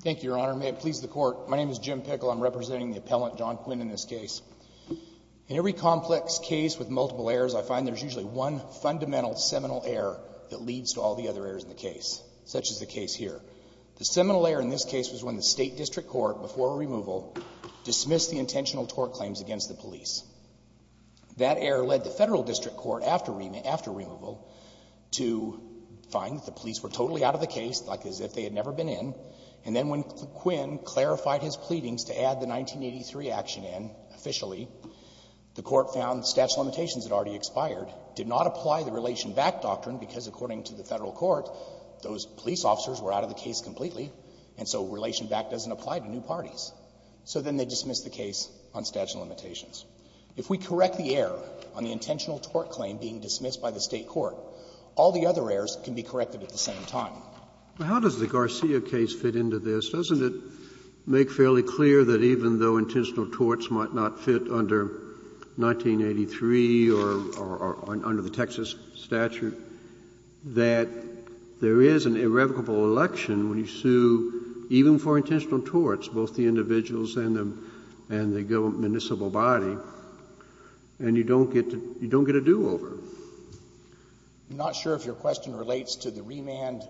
Thank you, Your Honor. May it please the Court, my name is Jim Pickle. I'm representing the appellant, John Quinn, in this case. In every complex case with multiple errors, I find there's usually one fundamental seminal error that leads to all the other errors in the case, such as the case here. The seminal error in this case was when the State District Court, before removal, dismissed the intentional tort claims against the police. That error led the Federal District Court, after removal, to find that the police were totally out of the case, like as if they had never been in. And then when Quinn clarified his pleadings to add the 1983 action in, officially, the Court found statute of limitations had already expired, did not apply the relation back doctrine, because according to the Federal Court, those police officers were out of the case completely, and so relation back doesn't apply to new parties. So then they dismissed the case on statute of limitations. If we correct the error on the intentional tort claim being dismissed by the State Court, all the other errors can be corrected at the same time. How does the Garcia case fit into this? Doesn't it make fairly clear that even though intentional torts might not fit under 1983 or under the Texas statute, that there is an irrevocable election when you sue, even for intentional torts, both the individuals and the municipal body, and you don't get a do-over? I'm not sure if your question relates to the remand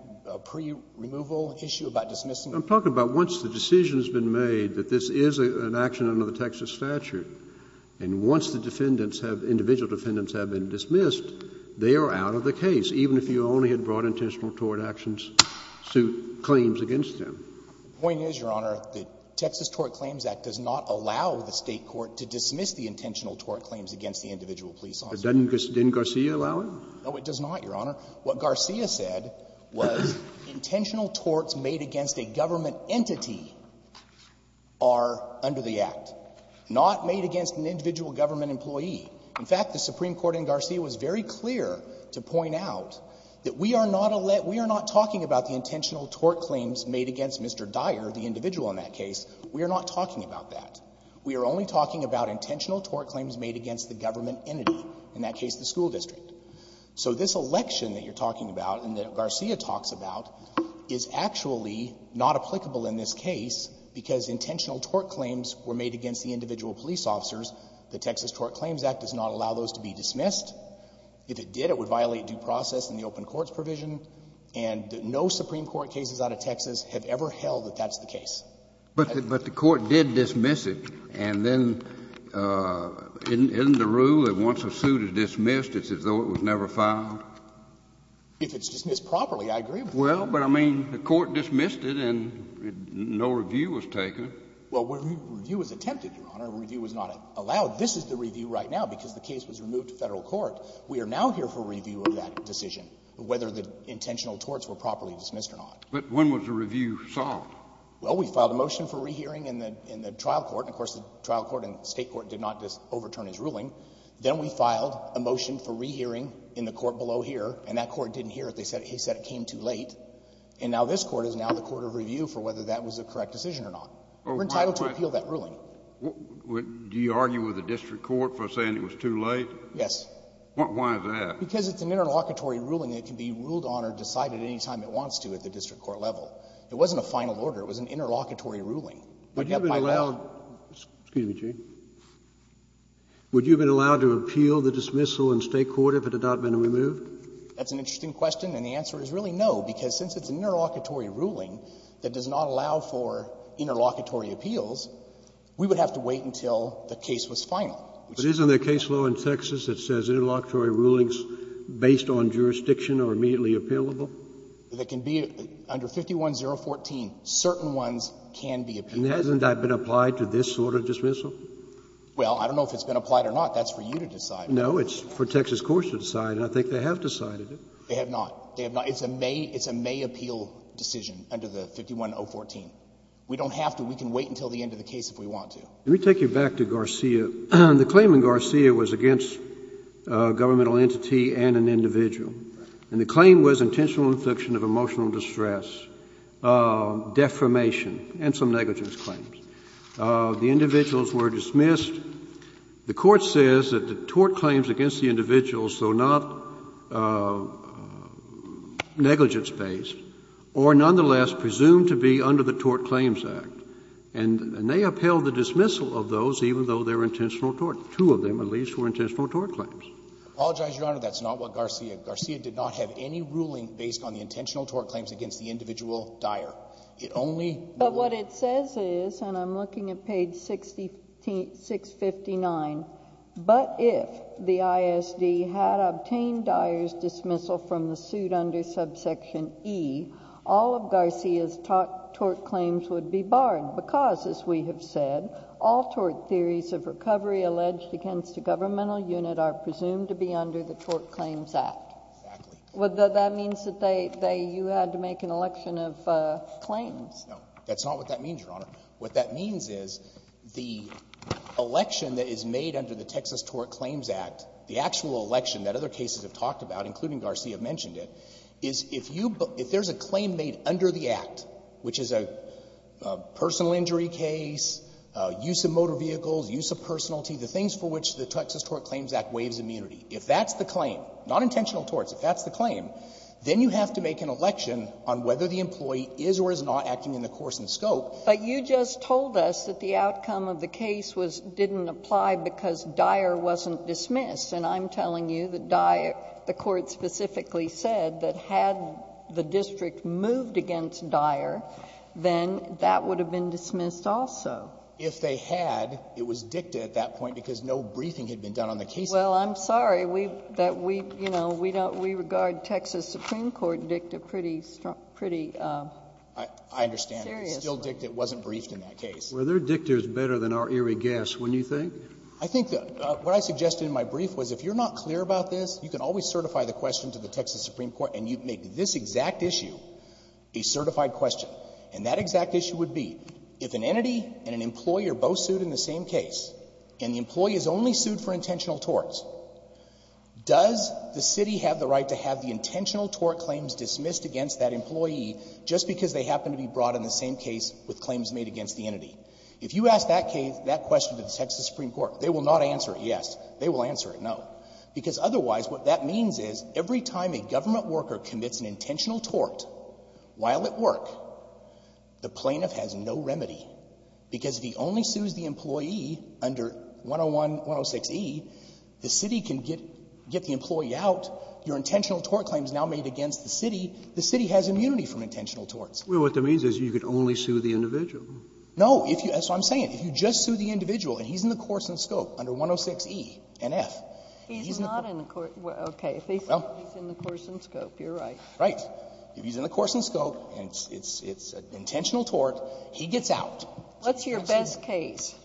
pre-removal issue about dismissing the case. I'm talking about once the decision has been made that this is an action under the Texas statute, and once the defendants have, individual defendants have been dismissed, they are out of the case, even if you only had brought intentional tort actions to claims against them. The point is, Your Honor, the Texas Tort Claims Act does not allow the State court to dismiss the intentional tort claims against the individual police officers. But didn't Garcia allow it? No, it does not, Your Honor. What Garcia said was intentional torts made against a government entity are under the Act, not made against an individual government employee. In fact, the Supreme Court in Garcia was very clear to point out that we are not a let intentional tort claims made against Mr. Dyer, the individual in that case, we are not talking about that. We are only talking about intentional tort claims made against the government entity, in that case the school district. So this election that you're talking about and that Garcia talks about is actually not applicable in this case because intentional tort claims were made against the individual police officers. The Texas Tort Claims Act does not allow those to be dismissed. If it did, it would violate due process in the open court's provision, and no Supreme Court cases out of Texas have ever held that that's the case. But the court did dismiss it, and then isn't the rule that once a suit is dismissed, it's as though it was never filed? If it's dismissed properly, I agree with that. Well, but I mean, the court dismissed it and no review was taken. Well, review was attempted, Your Honor, review was not allowed. Now, this is the review right now because the case was removed to Federal court. We are now here for review of that decision, whether the intentional torts were properly dismissed or not. But when was the review solved? Well, we filed a motion for rehearing in the trial court, and of course, the trial court and the State court did not overturn his ruling. Then we filed a motion for rehearing in the court below here, and that court didn't hear it. They said it came too late. And now this court is now the court of review for whether that was a correct decision or not. We're entitled to appeal that ruling. Do you argue with the district court for saying it was too late? Yes. Why is that? Because it's an interlocutory ruling that can be ruled on or decided any time it wants to at the district court level. It wasn't a final order. It was an interlocutory ruling. Would you have been allowed to appeal the dismissal in State court if it had not been removed? That's an interesting question, and the answer is really no, because since it's an interlocutory appeals, we would have to wait until the case was final. But isn't there a case law in Texas that says interlocutory rulings based on jurisdiction are immediately appealable? They can be. Under 51014, certain ones can be appealed. And hasn't that been applied to this sort of dismissal? Well, I don't know if it's been applied or not. That's for you to decide. No, it's for Texas courts to decide, and I think they have decided it. They have not. They have not. It's a May appeal decision under the 51014. We don't have to. We can wait until the end of the case if we want to. Let me take you back to Garcia. The claim in Garcia was against a governmental entity and an individual. And the claim was intentional infliction of emotional distress, defamation and some negligence claims. The individuals were dismissed. The Court says that the tort claims against the individuals, though not negligence based, were nonetheless presumed to be under the Tort Claims Act. And they upheld the dismissal of those even though they were intentional tort. Two of them, at least, were intentional tort claims. I apologize, Your Honor. That's not what Garcia did. Garcia did not have any ruling based on the intentional tort claims against the individual dyer. It only. But what it says is, and I'm looking at page 659, but if the ISD had obtained the individual dyer's dismissal from the suit under subsection E, all of Garcia's tort claims would be barred. Because, as we have said, all tort theories of recovery alleged against a governmental unit are presumed to be under the Tort Claims Act. Exactly. That means that you had to make an election of claims. No. That's not what that means, Your Honor. What that means is the election that is made under the Texas Tort Claims Act, the actual election that other cases have talked about, including Garcia mentioned it, is if you, if there's a claim made under the Act, which is a personal injury case, use of motor vehicles, use of personality, the things for which the Texas Tort Claims Act waives immunity. If that's the claim, not intentional torts, if that's the claim, then you have to make an election on whether the employee is or is not acting in the course and scope. But you just told us that the outcome of the case was, didn't apply because dyer wasn't dismissed. And I'm telling you that the court specifically said that had the district moved against dyer, then that would have been dismissed also. If they had, it was dicta at that point, because no briefing had been done on the case at that point. Well, I'm sorry that we, you know, we don't, we regard Texas Supreme Court dicta pretty seriously. I understand. But still dicta wasn't briefed in that case. Were their dictas better than our eerie guess, wouldn't you think? I think what I suggested in my brief was if you're not clear about this, you can always certify the question to the Texas Supreme Court, and you make this exact issue a certified question. And that exact issue would be, if an entity and an employer both sued in the same case, and the employee is only sued for intentional torts, does the city have the right to have the intentional tort claims dismissed against that employee just because they happen to be brought in the same case with claims made against the entity? If you ask that question to the Texas Supreme Court, they will not answer yes. They will answer no. Because otherwise, what that means is every time a government worker commits an intentional tort while at work, the plaintiff has no remedy, because if he only sues the employee under 101-106e, the city can get the employee out, your intentional tort claim is now made against the city, the city has immunity from intentional torts. Well, what that means is you could only sue the individual. No. That's what I'm saying. If you just sue the individual and he's in the course and scope under 106e and F. He's not in the course. Okay. Well. If he's in the course and scope, you're right. Right. If he's in the course and scope and it's an intentional tort, he gets out. What's your best case?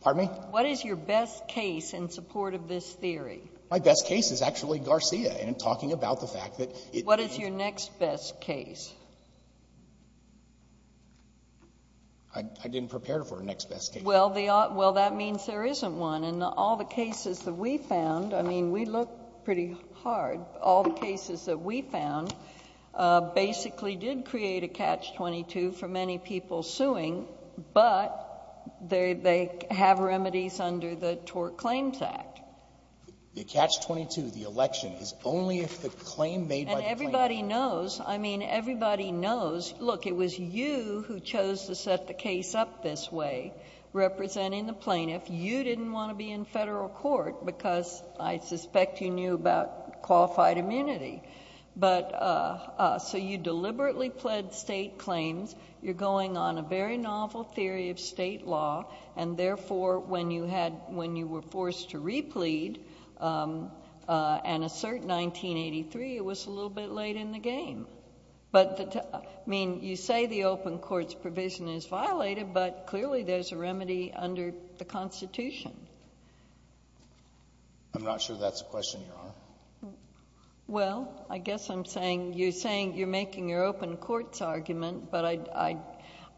Pardon me? What is your best case in support of this theory? My best case is actually Garcia in talking about the fact that it. What is your next best case? I didn't prepare for a next best case. Well, that means there isn't one. In all the cases that we found, I mean, we look pretty hard. All the cases that we found basically did create a Catch-22 for many people suing, but they have remedies under the Tort Claims Act. The Catch-22, the election, is only if the claim made by the plaintiff. Everybody knows. I mean, everybody knows. Look, it was you who chose to set the case up this way, representing the plaintiff. You didn't want to be in federal court because I suspect you knew about qualified immunity. You deliberately pled state claims. You're going on a very novel theory of state law, and therefore, when you were forced to replead and assert 1983, it was a little bit late in the game. I mean, you say the open court's provision is violated, but clearly, there's a remedy under the Constitution. I'm not sure that's a question, Your Honor. Well, I guess I'm saying you're making your open court's argument, but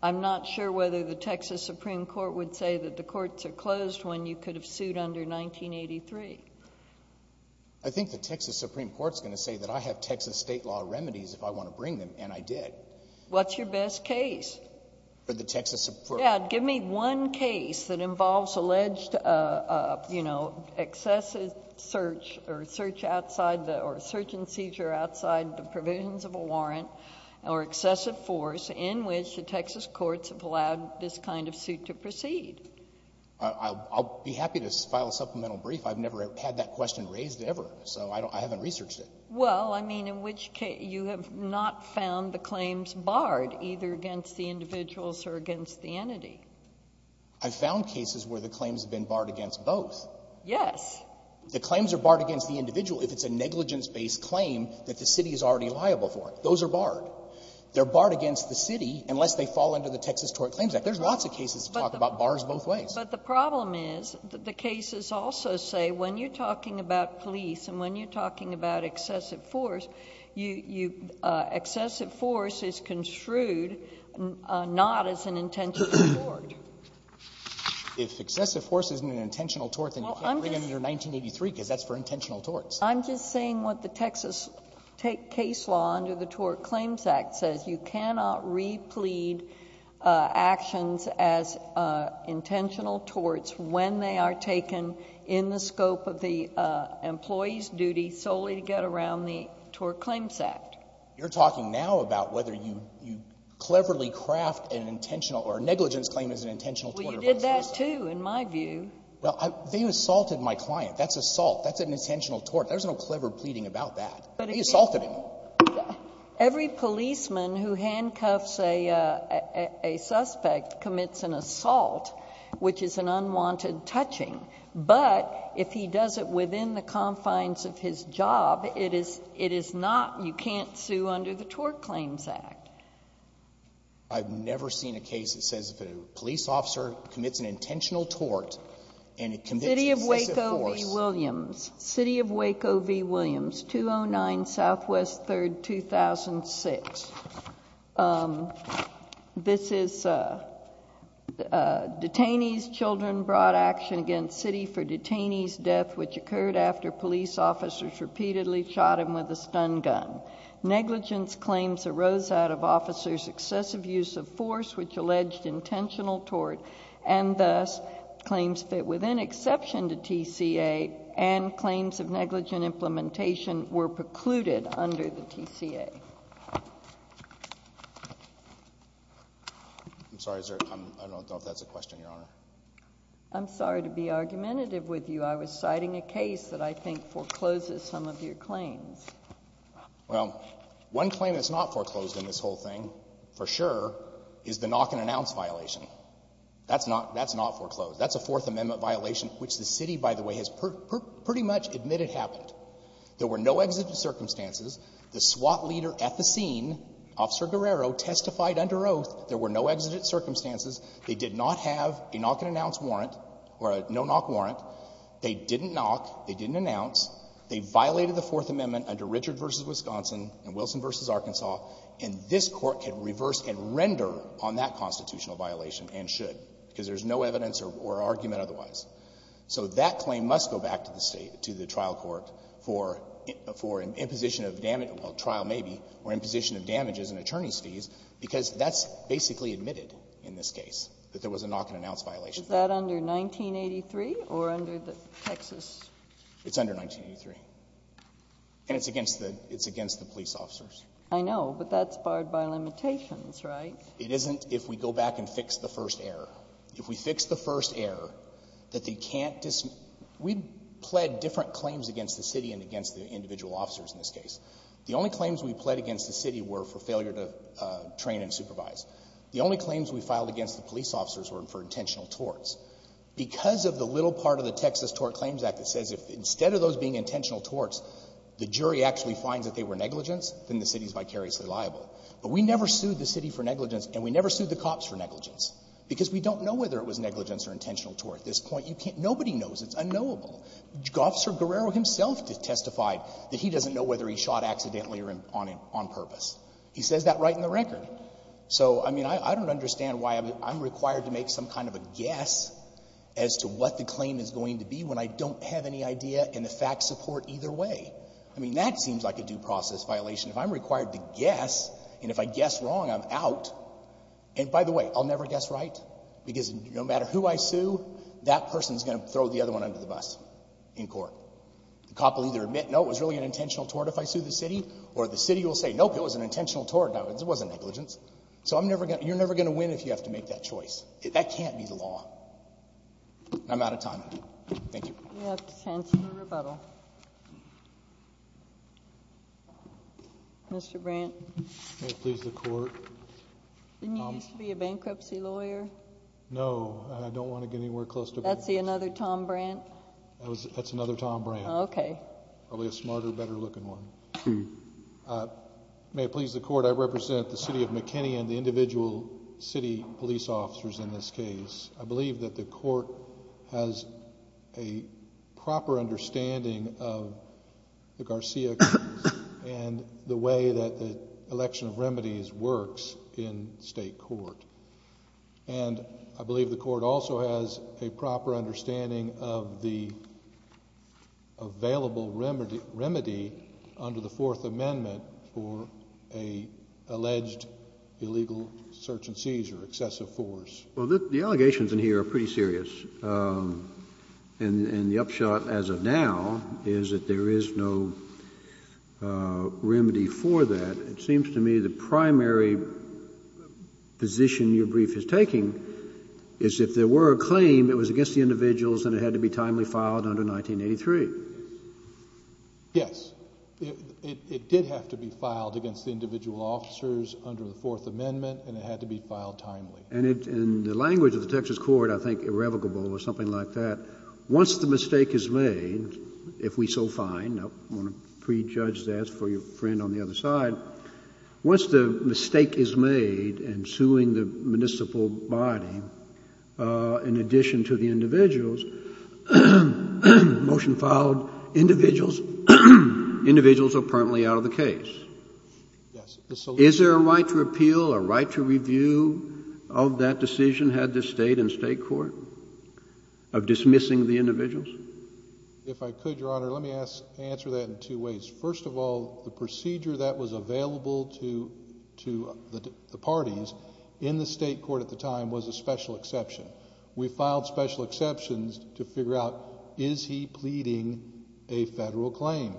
I'm not sure whether the Texas Supreme Court would say that the courts are closed when you could have sued under 1983. I think the Texas Supreme Court's going to say that I have Texas state law remedies if I want to bring them, and I did. What's your best case? For the Texas Supreme Court. Yeah, give me one case that involves alleged excessive search or search outside or search and seizure outside the provisions of a warrant or excessive force in which the Texas courts have allowed this kind of suit to proceed. I'll be happy to file a supplemental brief. I've never had that question raised ever, so I haven't researched it. Well, I mean, in which case you have not found the claims barred, either against the individuals or against the entity. I found cases where the claims have been barred against both. Yes. The claims are barred against the individual if it's a negligence-based claim that the city is already liable for. Those are barred. They're barred against the city unless they fall under the Texas Tort Claims Act. There's lots of cases that talk about bars both ways. But the problem is the cases also say when you're talking about police and when you're talking about excessive force, excessive force is construed not as an intentional tort. If excessive force isn't an intentional tort, then you can't bring it under 1983 because that's for intentional torts. I'm just saying what the Texas case law under the Tort Claims Act says. You cannot replete actions as intentional torts when they are taken in the scope of the employee's duty solely to get around the Tort Claims Act. You're talking now about whether you cleverly craft an intentional or negligence claim as an intentional tort. Well, you did that, too, in my view. Well, they assaulted my client. That's assault. That's an intentional tort. There's no clever pleading about that. They assaulted him. Every policeman who handcuffs a suspect commits an assault, which is an unwanted touching. But if he does it within the confines of his job, it is not, you can't sue under the Tort Claims Act. I've never seen a case that says if a police officer commits an intentional tort and it commits excessive force. City of Waco v. Williams, 209 Southwest 3rd, 2006. This is detainees' children brought action against city for detainees' death, which occurred after police officers repeatedly shot him with a stun gun. Negligence claims arose out of officers' excessive use of force, which alleged intentional tort, and thus, claims fit within exception to TCA and claims of negligent implementation were precluded under the TCA. I'm sorry. I don't know if that's a question, Your Honor. I'm sorry to be argumentative with you. I was citing a case that I think forecloses some of your claims. Well, one claim that's not foreclosed in this whole thing, for sure, is the knock-and-announce violation. That's not foreclosed. That's a Fourth Amendment violation, which the city, by the way, has pretty much admitted happened. There were no exigent circumstances. The SWAT leader at the scene, Officer Guerrero, testified under oath there were no exigent circumstances. They did not have a knock-and-announce warrant or a no-knock warrant. They didn't knock. They didn't announce. They violated the Fourth Amendment under Richard v. Wisconsin and Wilson v. Arkansas, and this Court can reverse and render on that constitutional violation, and should, because there's no evidence or argument otherwise. So that claim must go back to the State, to the trial court, for imposition of damage or trial, maybe, or imposition of damages and attorney's fees, because that's basically admitted in this case, that there was a knock-and-announce violation. Is that under 1983 or under the Texas? It's under 1983. And it's against the police officers. I know. But that's barred by limitations, right? It isn't if we go back and fix the first error. If we fix the first error, that they can't dismiss. We pled different claims against the City and against the individual officers in this case. The only claims we pled against the City were for failure to train and supervise. The only claims we filed against the police officers were for intentional torts. Because of the little part of the Texas Tort Claims Act that says if instead of those negligence, then the City is vicariously liable. But we never sued the City for negligence, and we never sued the cops for negligence, because we don't know whether it was negligence or intentional tort. At this point, you can't – nobody knows. It's unknowable. Officer Guerrero himself testified that he doesn't know whether he shot accidentally or on purpose. He says that right in the record. So, I mean, I don't understand why I'm required to make some kind of a guess as to what the claim is going to be when I don't have any idea and the facts support either way. I mean, that seems like a due process violation. If I'm required to guess, and if I guess wrong, I'm out. And by the way, I'll never guess right. Because no matter who I sue, that person's going to throw the other one under the bus in court. The cop will either admit, no, it was really an intentional tort if I sue the City, or the City will say, nope, it was an intentional tort. No, it wasn't negligence. So I'm never going to – you're never going to win if you have to make that choice. That can't be the law. I'm out of time. Thank you. We have to cancel the rebuttal. Mr. Brandt. May it please the Court. Didn't you used to be a bankruptcy lawyer? No. I don't want to get anywhere close to bankruptcy. That's another Tom Brandt? That's another Tom Brandt. Okay. Probably a smarter, better looking one. May it please the Court, I represent the City of McKinney and the individual City police officers in this case. I believe that the Court has a proper understanding of the Garcia case and the way that the election of remedies works in State court. And I believe the Court also has a proper understanding of the available remedy under the Fourth Amendment for an alleged illegal search and seizure, excessive force. Well, the allegations in here are pretty serious. And the upshot as of now is that there is no remedy for that. It seems to me the primary position your brief is taking is if there were a claim, it was against the individuals and it had to be timely filed under 1983. Yes. It did have to be filed against the individual officers under the Fourth Amendment and it had to be filed timely. And in the language of the Texas court, I think irrevocable or something like that, once the mistake is made, if we so find, I want to prejudge that for your friend on the other side, once the mistake is made in suing the municipal body in addition to the individuals, motion filed, individuals are permanently out of the case. Yes. Is there a right to appeal, a right to review of that decision had the State and State court of dismissing the individuals? If I could, Your Honor, let me answer that in two ways. First of all, the procedure that was available to the parties in the State court at the time was a special exception. We filed special exceptions to figure out is he pleading a Federal claim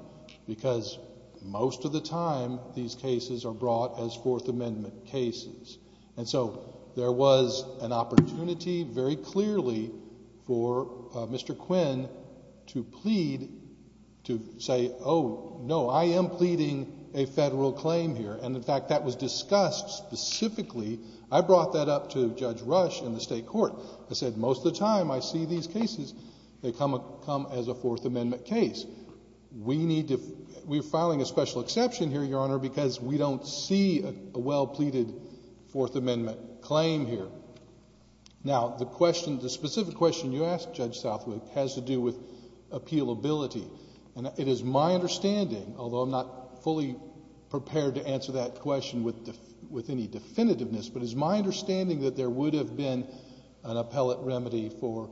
because most of the time these cases are brought as Fourth Amendment cases. And so there was an opportunity very clearly for Mr. Quinn to plead, to say, oh, no, I am pleading a Federal claim here. And, in fact, that was discussed specifically. I brought that up to Judge Rush in the State court. I said most of the time I see these cases, they come as a Fourth Amendment case. We are filing a special exception here, Your Honor, because we don't see a well-pleaded Fourth Amendment claim here. Now, the specific question you asked, Judge Southwood, has to do with appealability. And it is my understanding, although I'm not fully prepared to answer that question with any definitiveness, but it is my understanding that there would have been an appellate remedy for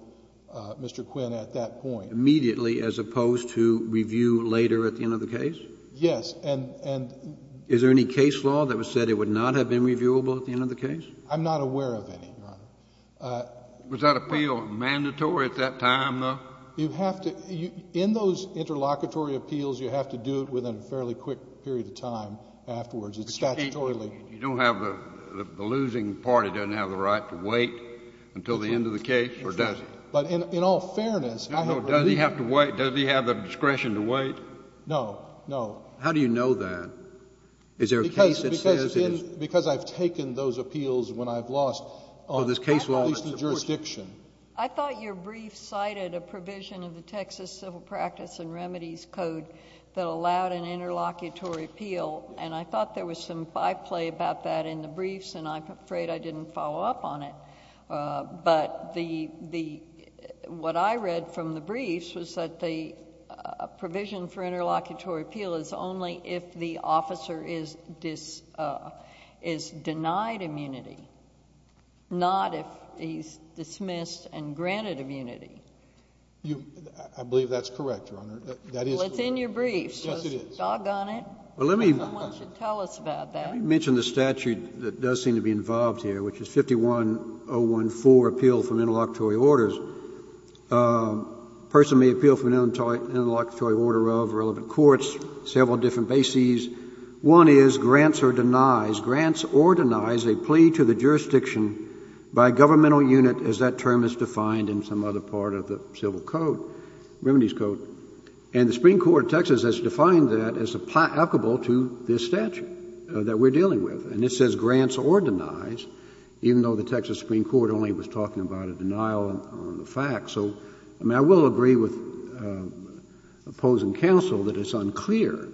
Mr. Quinn at that point. Immediately as opposed to review later at the end of the case? Yes. Is there any case law that said it would not have been reviewable at the end of the case? I'm not aware of any, Your Honor. Was that appeal mandatory at that time, though? In those interlocutory appeals, you have to do it within a fairly quick period of time afterwards. It's statutorily. You don't have the losing party doesn't have the right to wait until the end of the case, or does it? But in all fairness, I have reviewed it. Does he have the discretion to wait? No. No. How do you know that? Is there a case that says it is? Because I've taken those appeals when I've lost at least the jurisdiction. I thought your brief cited a provision of the Texas Civil Practice and Remedies Code that allowed an interlocutory appeal. And I thought there was some byplay about that in the briefs, and I'm afraid I didn't follow up on it. But what I read from the briefs was that the provision for interlocutory appeal is only if the officer is denied immunity, not if he's dismissed and granted immunity. I believe that's correct, Your Honor. That is correct. Well, it's in your briefs. Yes, it is. So it's doggone it. Well, let me— No one should tell us about that. I mentioned the statute that does seem to be involved here, which is 51014, Appeal from Interlocutory Orders. A person may appeal from an interlocutory order of relevant courts, several different bases. One is grants or denies. Grants or denies a plea to the jurisdiction by a governmental unit, as that term is defined in some other part of the Civil Code, Remedies Code. And the Supreme Court of Texas has defined that as applicable to this statute that we're dealing with. And it says grants or denies, even though the Texas Supreme Court only was talking about a denial on the fact. So, I mean, I will agree with opposing counsel that it's unclear.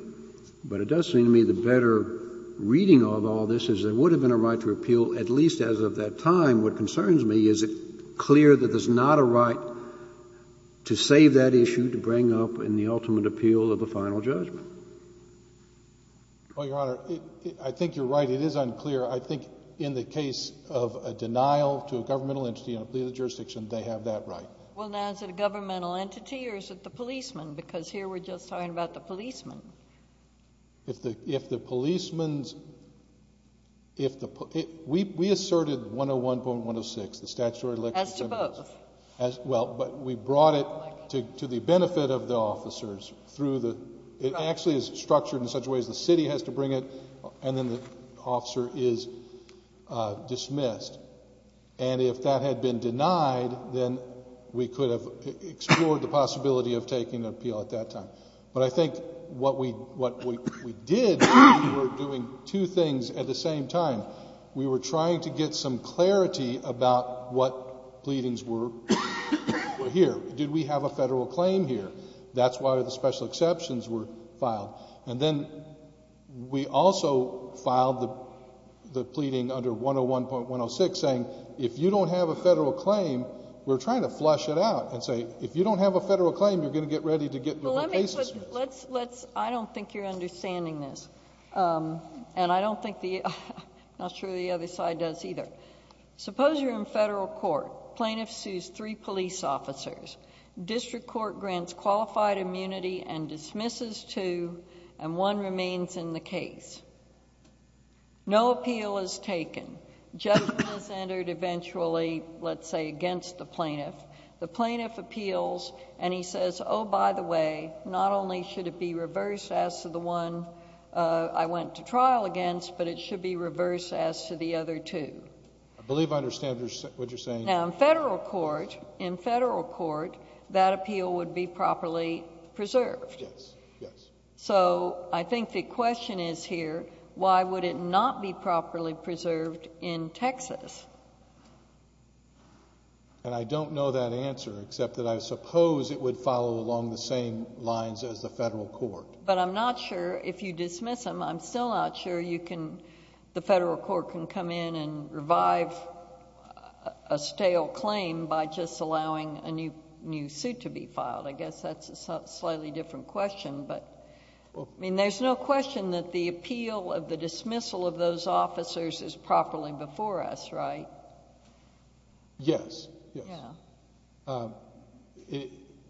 But it does seem to me the better reading of all this is there would have been a right to appeal at least as of that time. And what concerns me, is it clear that there's not a right to save that issue to bring up in the ultimate appeal of the final judgment? Well, Your Honor, I think you're right. It is unclear. I think in the case of a denial to a governmental entity and a plea to the jurisdiction, they have that right. Well, now, is it a governmental entity or is it the policeman? Because here we're just talking about the policeman. If the policeman's, if the, we asserted 101.106, the statutory election. As to both. As, well, but we brought it to the benefit of the officers through the, it actually is structured in such a way as the city has to bring it and then the officer is dismissed. And if that had been denied, then we could have explored the possibility of taking an appeal at that time. But I think what we did, we were doing two things at the same time. We were trying to get some clarity about what pleadings were here. Did we have a federal claim here? That's why the special exceptions were filed. And then we also filed the pleading under 101.106 saying, if you don't have a federal claim, we're trying to flush it out and say, if you don't have a federal claim, you're going to get ready to get your cases. Let's, let's, I don't think you're understanding this. And I don't think the, not sure the other side does either. Suppose you're in federal court. Plaintiff sues three police officers. District court grants qualified immunity and dismisses two, and one remains in the case. No appeal is taken. Judgment is entered eventually, let's say, against the plaintiff. The plaintiff appeals and he says, oh, by the way, not only should it be reversed as to the one I went to trial against, but it should be reversed as to the other two. I believe I understand what you're saying. Now, in federal court, in federal court, that appeal would be properly preserved. Yes, yes. So I think the question is here, why would it not be properly preserved in Texas? And I don't know that answer, except that I suppose it would follow along the same lines as the federal court. But I'm not sure, if you dismiss them, I'm still not sure you can, the federal court can come in and revive a stale claim by just allowing a new suit to be filed. I guess that's a slightly different question. I mean, there's no question that the appeal of the dismissal of those officers is properly before us, right? Yes, yes.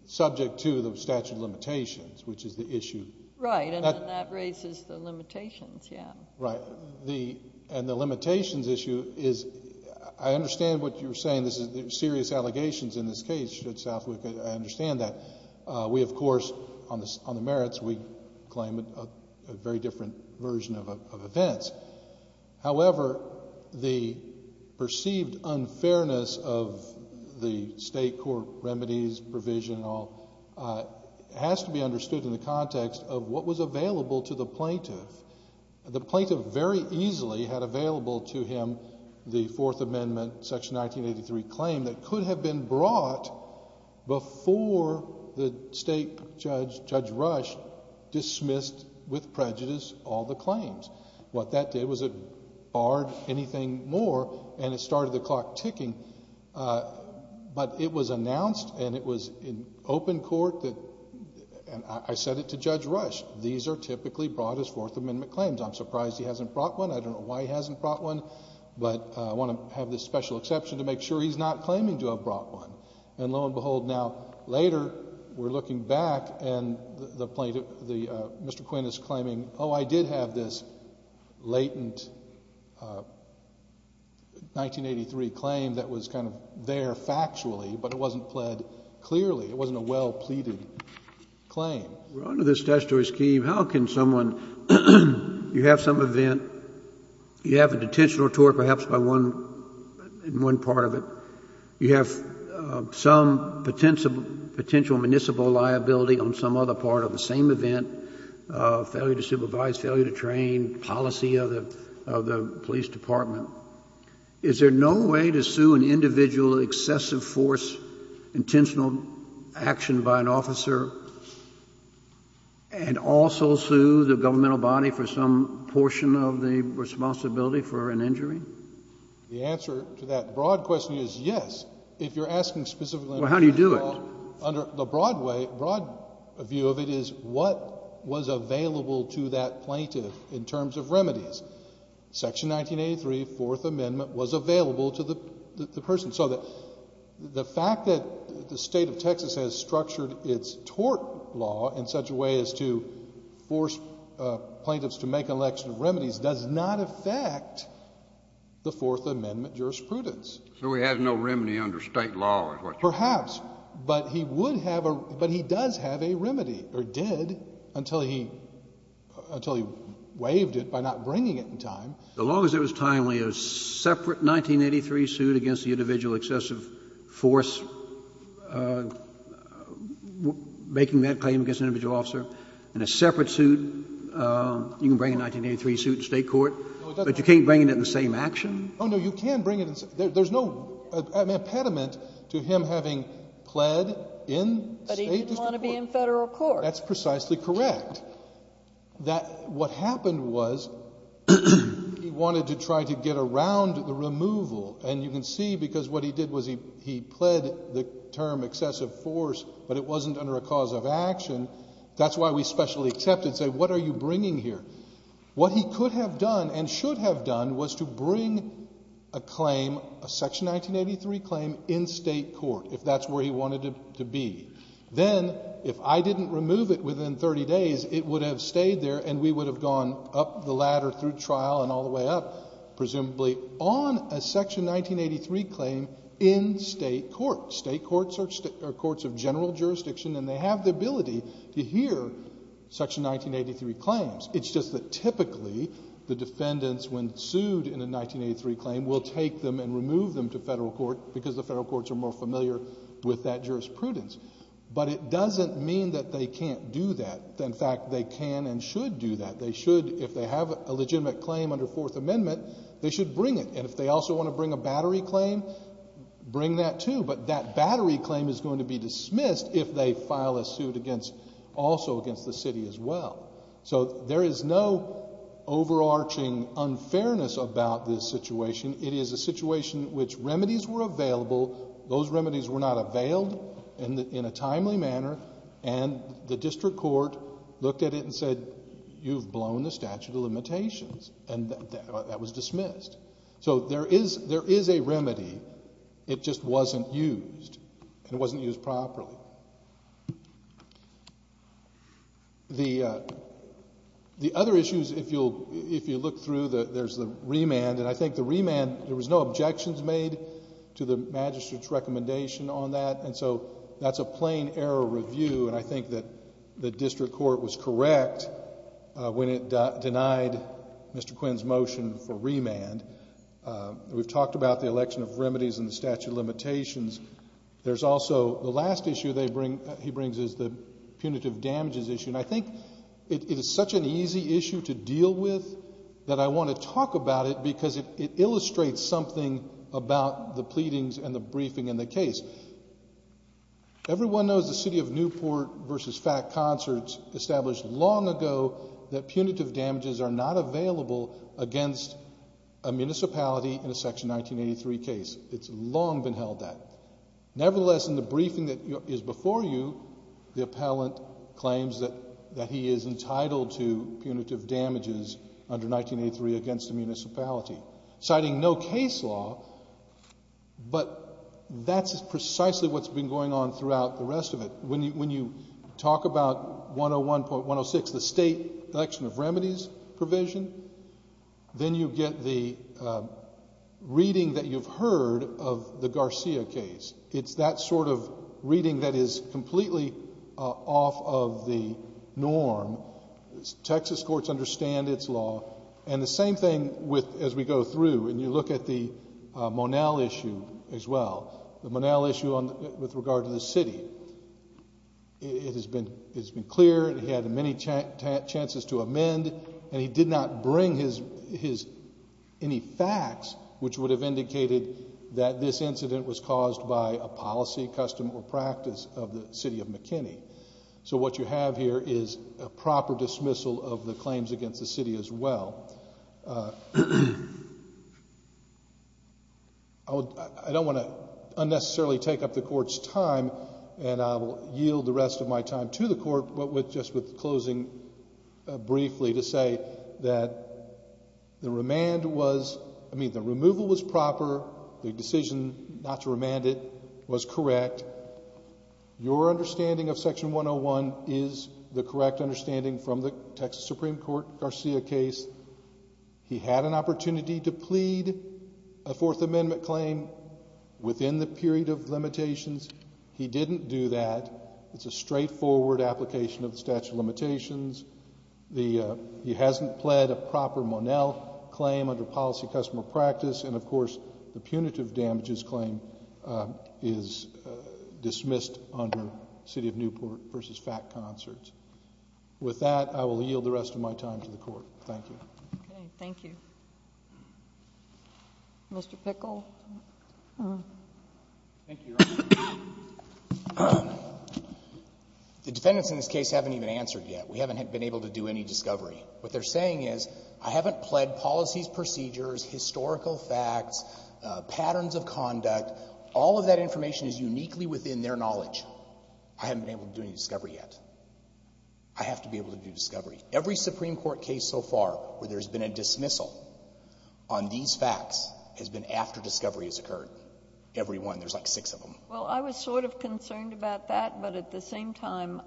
Subject to the statute of limitations, which is the issue. Right, and that raises the limitations, yeah. Right. And the limitations issue is, I understand what you're saying. This is serious allegations in this case, Judge Southwick. I understand that. We, of course, on the merits, we claim a very different version of events. However, the perceived unfairness of the state court remedies provision and all has to be understood in the context of what was available to the plaintiff. The plaintiff very easily had available to him the Fourth Amendment, Section 1983 claim that could have been brought before the state judge, Judge Rush, dismissed with prejudice all the claims. What that did was it barred anything more, and it started the clock ticking. But it was announced, and it was in open court, and I said it to Judge Rush, these are typically brought as Fourth Amendment claims. I'm surprised he hasn't brought one. I don't know why he hasn't brought one, but I want to have this special exception to make sure he's not claiming to have brought one. And lo and behold, now later we're looking back, and Mr. Quinn is claiming, oh, I did have this latent 1983 claim that was kind of there factually, but it wasn't pled clearly. It wasn't a well-pleaded claim. We're under this statutory scheme. How can someone, you have some event, you have a detention or tort perhaps in one part of it. You have some potential municipal liability on some other part of the same event, failure to supervise, failure to train, policy of the police department. Is there no way to sue an individual excessive force intentional action by an officer and also sue the governmental body for some portion of the responsibility for an injury? The answer to that broad question is yes. If you're asking specifically under the broad view of it is what was available to that plaintiff in terms of remedies. Section 1983 Fourth Amendment was available to the person. So the fact that the state of Texas has structured its tort law in such a way as to force plaintiffs to make an election of remedies does not affect the Fourth Amendment jurisprudence. So he has no remedy under state law. Perhaps, but he would have a, but he does have a remedy or did until he, until he waived it by not bringing it in time. As long as it was timely, a separate 1983 suit against the individual excessive force, making that claim against an individual officer in a separate suit. You can bring a 1983 suit to state court, but you can't bring it in the same action. Oh, no, you can bring it in. There's no impediment to him having pled in state district court. But he didn't want to be in federal court. That's precisely correct. That what happened was he wanted to try to get around the removal. And you can see because what he did was he, he pled the term excessive force, but it wasn't under a cause of action. That's why we specially accepted and say, what are you bringing here? What he could have done and should have done was to bring a claim, a section 1983 claim in state court, if that's where he wanted to be. Then if I didn't remove it within 30 days, it would have stayed there and we would have gone up the ladder through trial and all the way up, presumably on a section 1983 claim in state court. State courts are courts of general jurisdiction and they have the ability to hear section 1983 claims. It's just that typically the defendants, when sued in a 1983 claim, will take them and remove them to federal court because the federal courts are more familiar with that jurisprudence. But it doesn't mean that they can't do that. In fact, they can and should do that. They should, if they have a legitimate claim under Fourth Amendment, they should bring it. And if they also want to bring a battery claim, bring that too. But that battery claim is going to be dismissed if they file a suit against, also against the city as well. So there is no overarching unfairness about this situation. It is a situation which remedies were available. Those remedies were not availed in a timely manner and the district court looked at it and said, you've blown the statute of limitations and that was dismissed. So there is a remedy. It just wasn't used and it wasn't used properly. The other issues, if you look through, there is the remand. And I think the remand, there was no objections made to the magistrate's recommendation on that. And so that's a plain error review and I think that the district court was correct when it denied Mr. Quinn's motion for remand. We've talked about the election of remedies and the statute of limitations. There's also the last issue he brings is the punitive damages issue. And I think it is such an easy issue to deal with that I want to talk about it because it illustrates something about the pleadings and the briefing and the case. Everyone knows the city of Newport versus FACT concerts established long ago that punitive damages are not available against a municipality in a Section 1983 case. It's long been held that. Nevertheless, in the briefing that is before you, the appellant claims that he is entitled to punitive damages under 1983 against the municipality. Citing no case law, but that's precisely what's been going on throughout the rest of it. When you talk about 101.106, the state election of remedies provision, then you get the reading that you've heard of the Garcia case. It's that sort of reading that is completely off of the norm. Texas courts understand its law. And the same thing as we go through and you look at the Monell issue as well. The Monell issue with regard to the city. It has been clear that he had many chances to amend and he did not bring any facts which would have indicated that this incident was caused by a policy, custom, or practice of the city of McKinney. So what you have here is a proper dismissal of the claims against the city as well. I don't want to unnecessarily take up the court's time and I will yield the rest of my time to the court. But just with closing briefly to say that the remand was, I mean the removal was proper. The decision not to remand it was correct. Your understanding of section 101 is the correct understanding from the Texas Supreme Court Garcia case. He had an opportunity to plead a Fourth Amendment claim within the period of limitations. He didn't do that. It's a straightforward application of the statute of limitations. He hasn't pled a proper Monell claim under policy, custom, or practice. And, of course, the punitive damages claim is dismissed under city of Newport v. Fat Concerts. With that, I will yield the rest of my time to the court. Thank you. Okay. Mr. Pickle. Thank you, Your Honor. The defendants in this case haven't even answered yet. We haven't been able to do any discovery. What they're saying is I haven't pled policies, procedures, historical facts, patterns of conduct. All of that information is uniquely within their knowledge. I haven't been able to do any discovery yet. I have to be able to do discovery. Every Supreme Court case so far where there's been a dismissal on these facts has been after discovery has occurred. Every one. There's like six of them. Well, I was sort of concerned about that, but at the same time,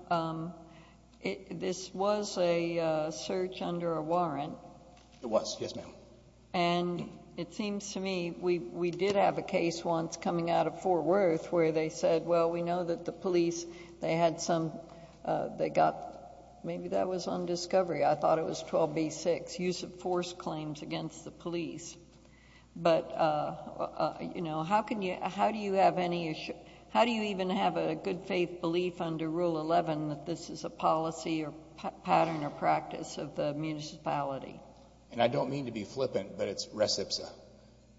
this was a search under a warrant. It was. Yes, ma'am. And it seems to me we did have a case once coming out of Fort Worth where they said, well, we know that the police, they had some, they got, maybe that was on discovery. I thought it was 12b-6, use of force claims against the police. But, you know, how can you, how do you have any, how do you even have a good faith belief under Rule 11 that this is a policy or pattern or practice of the municipality? And I don't mean to be flippant, but it's recipsa.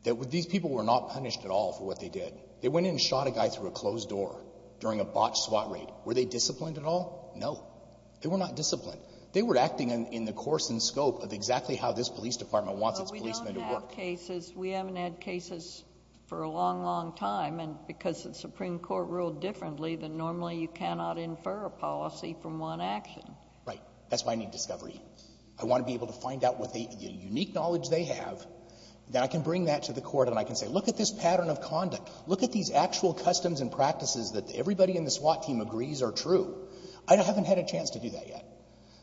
These people were not punished at all for what they did. They went in and shot a guy through a closed door during a botched SWAT raid. Were they disciplined at all? No. They were not disciplined. They were acting in the course and scope of exactly how this police department wants its policemen to work. We've had cases. We haven't had cases for a long, long time. And because the Supreme Court ruled differently, then normally you cannot infer a policy from one action. Right. That's why I need discovery. I want to be able to find out what the unique knowledge they have. Then I can bring that to the court and I can say, look at this pattern of conduct. Look at these actual customs and practices that everybody in the SWAT team agrees are true. I haven't had a chance to do that yet.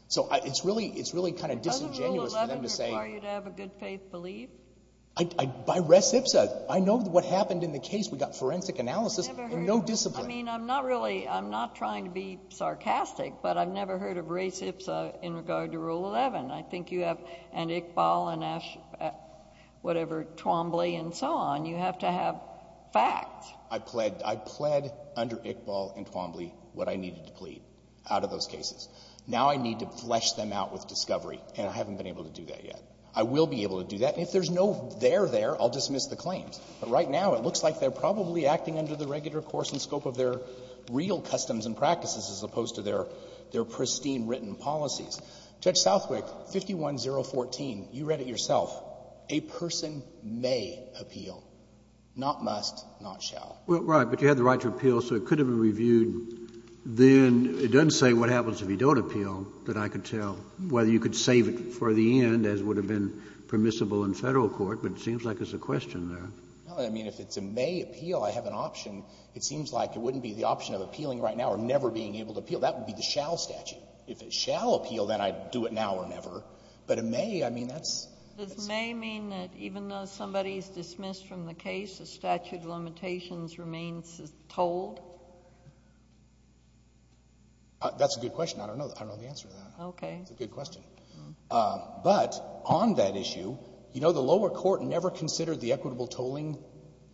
So it's really, it's really kind of disingenuous for them to say. Are you to have a good faith belief? By res ipsa. I know what happened in the case. We got forensic analysis and no discipline. I mean, I'm not really, I'm not trying to be sarcastic, but I've never heard of res ipsa in regard to Rule 11. I think you have, and Iqbal and whatever, Twombly and so on. You have to have facts. I pled under Iqbal and Twombly what I needed to plead out of those cases. Now I need to flesh them out with discovery, and I haven't been able to do that yet. I will be able to do that. And if there's no there there, I'll dismiss the claims. But right now it looks like they're probably acting under the regular course and scope of their real customs and practices as opposed to their pristine written policies. Judge Southwick, 51014, you read it yourself. A person may appeal, not must, not shall. Well, right, but you have the right to appeal, so it could have been reviewed. Then it doesn't say what happens if you don't appeal that I could tell, whether you could save it for the end as would have been permissible in federal court, but it seems like there's a question there. Well, I mean, if it's a may appeal, I have an option. It seems like it wouldn't be the option of appealing right now or never being able to appeal. That would be the shall statute. If it shall appeal, then I'd do it now or never. But a may, I mean, that's — Does may mean that even though somebody is dismissed from the case, the statute of limitations remains tolled? That's a good question. I don't know the answer to that. Okay. It's a good question. But on that issue, you know, the lower court never considered the equitable tolling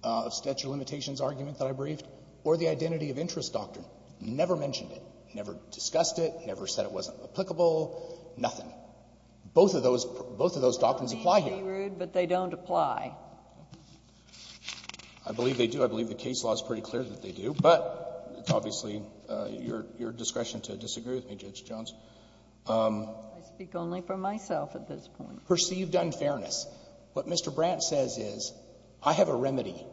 of statute of limitations argument that I briefed or the identity of interest doctrine. Never mentioned it. Never discussed it. Never said it wasn't applicable. Nothing. Both of those doctrines apply here. They may be rude, but they don't apply. I believe they do. I believe the case law is pretty clear that they do. But it's obviously your discretion to disagree with me, Judge Jones. I speak only for myself at this point. Perceived unfairness. What Mr. Brandt says is I have a remedy.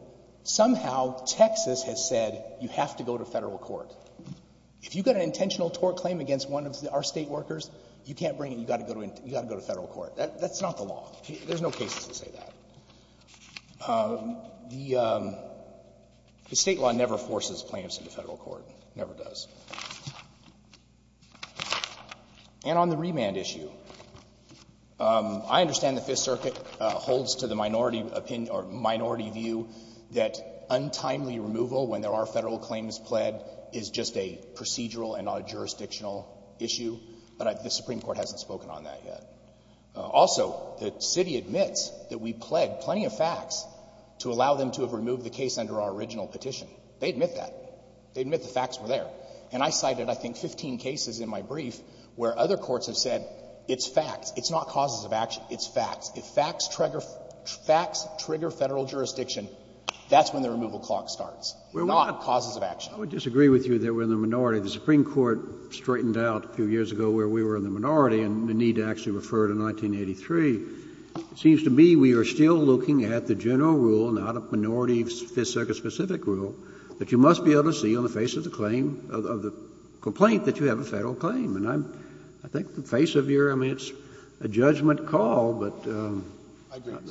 Somehow Texas has said you have to go to Federal court. If you've got an intentional tort claim against one of our State workers, you can't bring it, you've got to go to Federal court. That's not the law. There's no cases that say that. The State law never forces claims to the Federal court. Never does. And on the remand issue, I understand the Fifth Circuit holds to the minority opinion or minority view that untimely removal when there are Federal claims pled is just a procedural and not a jurisdictional issue, but the Supreme Court hasn't spoken on that yet. Also, the City admits that we pled plenty of facts to allow them to have removed the case under our original petition. They admit that. They admit the facts were there. And I cited I think 15 cases in my brief where other courts have said it's facts. It's not causes of action. It's facts. If facts trigger Federal jurisdiction, that's when the removal clock starts, not causes of action. I would disagree with you that we're in the minority. The Supreme Court straightened out a few years ago where we were in the minority and the need to actually refer to 1983. It seems to me we are still looking at the general rule, not a minority Fifth Circuit specific rule, that you must be able to see on the face of the claim, of the complaint that you have a Federal claim. And I think the face of your, I mean, it's a judgment call, but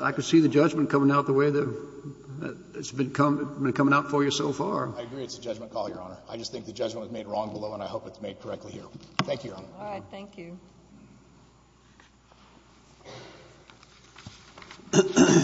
I could see the judgment coming out the way that it's been coming out for you so far. I agree it's a judgment call, Your Honor. I just think the judgment was made wrong below and I hope it's made correctly here. Thank you, Your Honor. All right.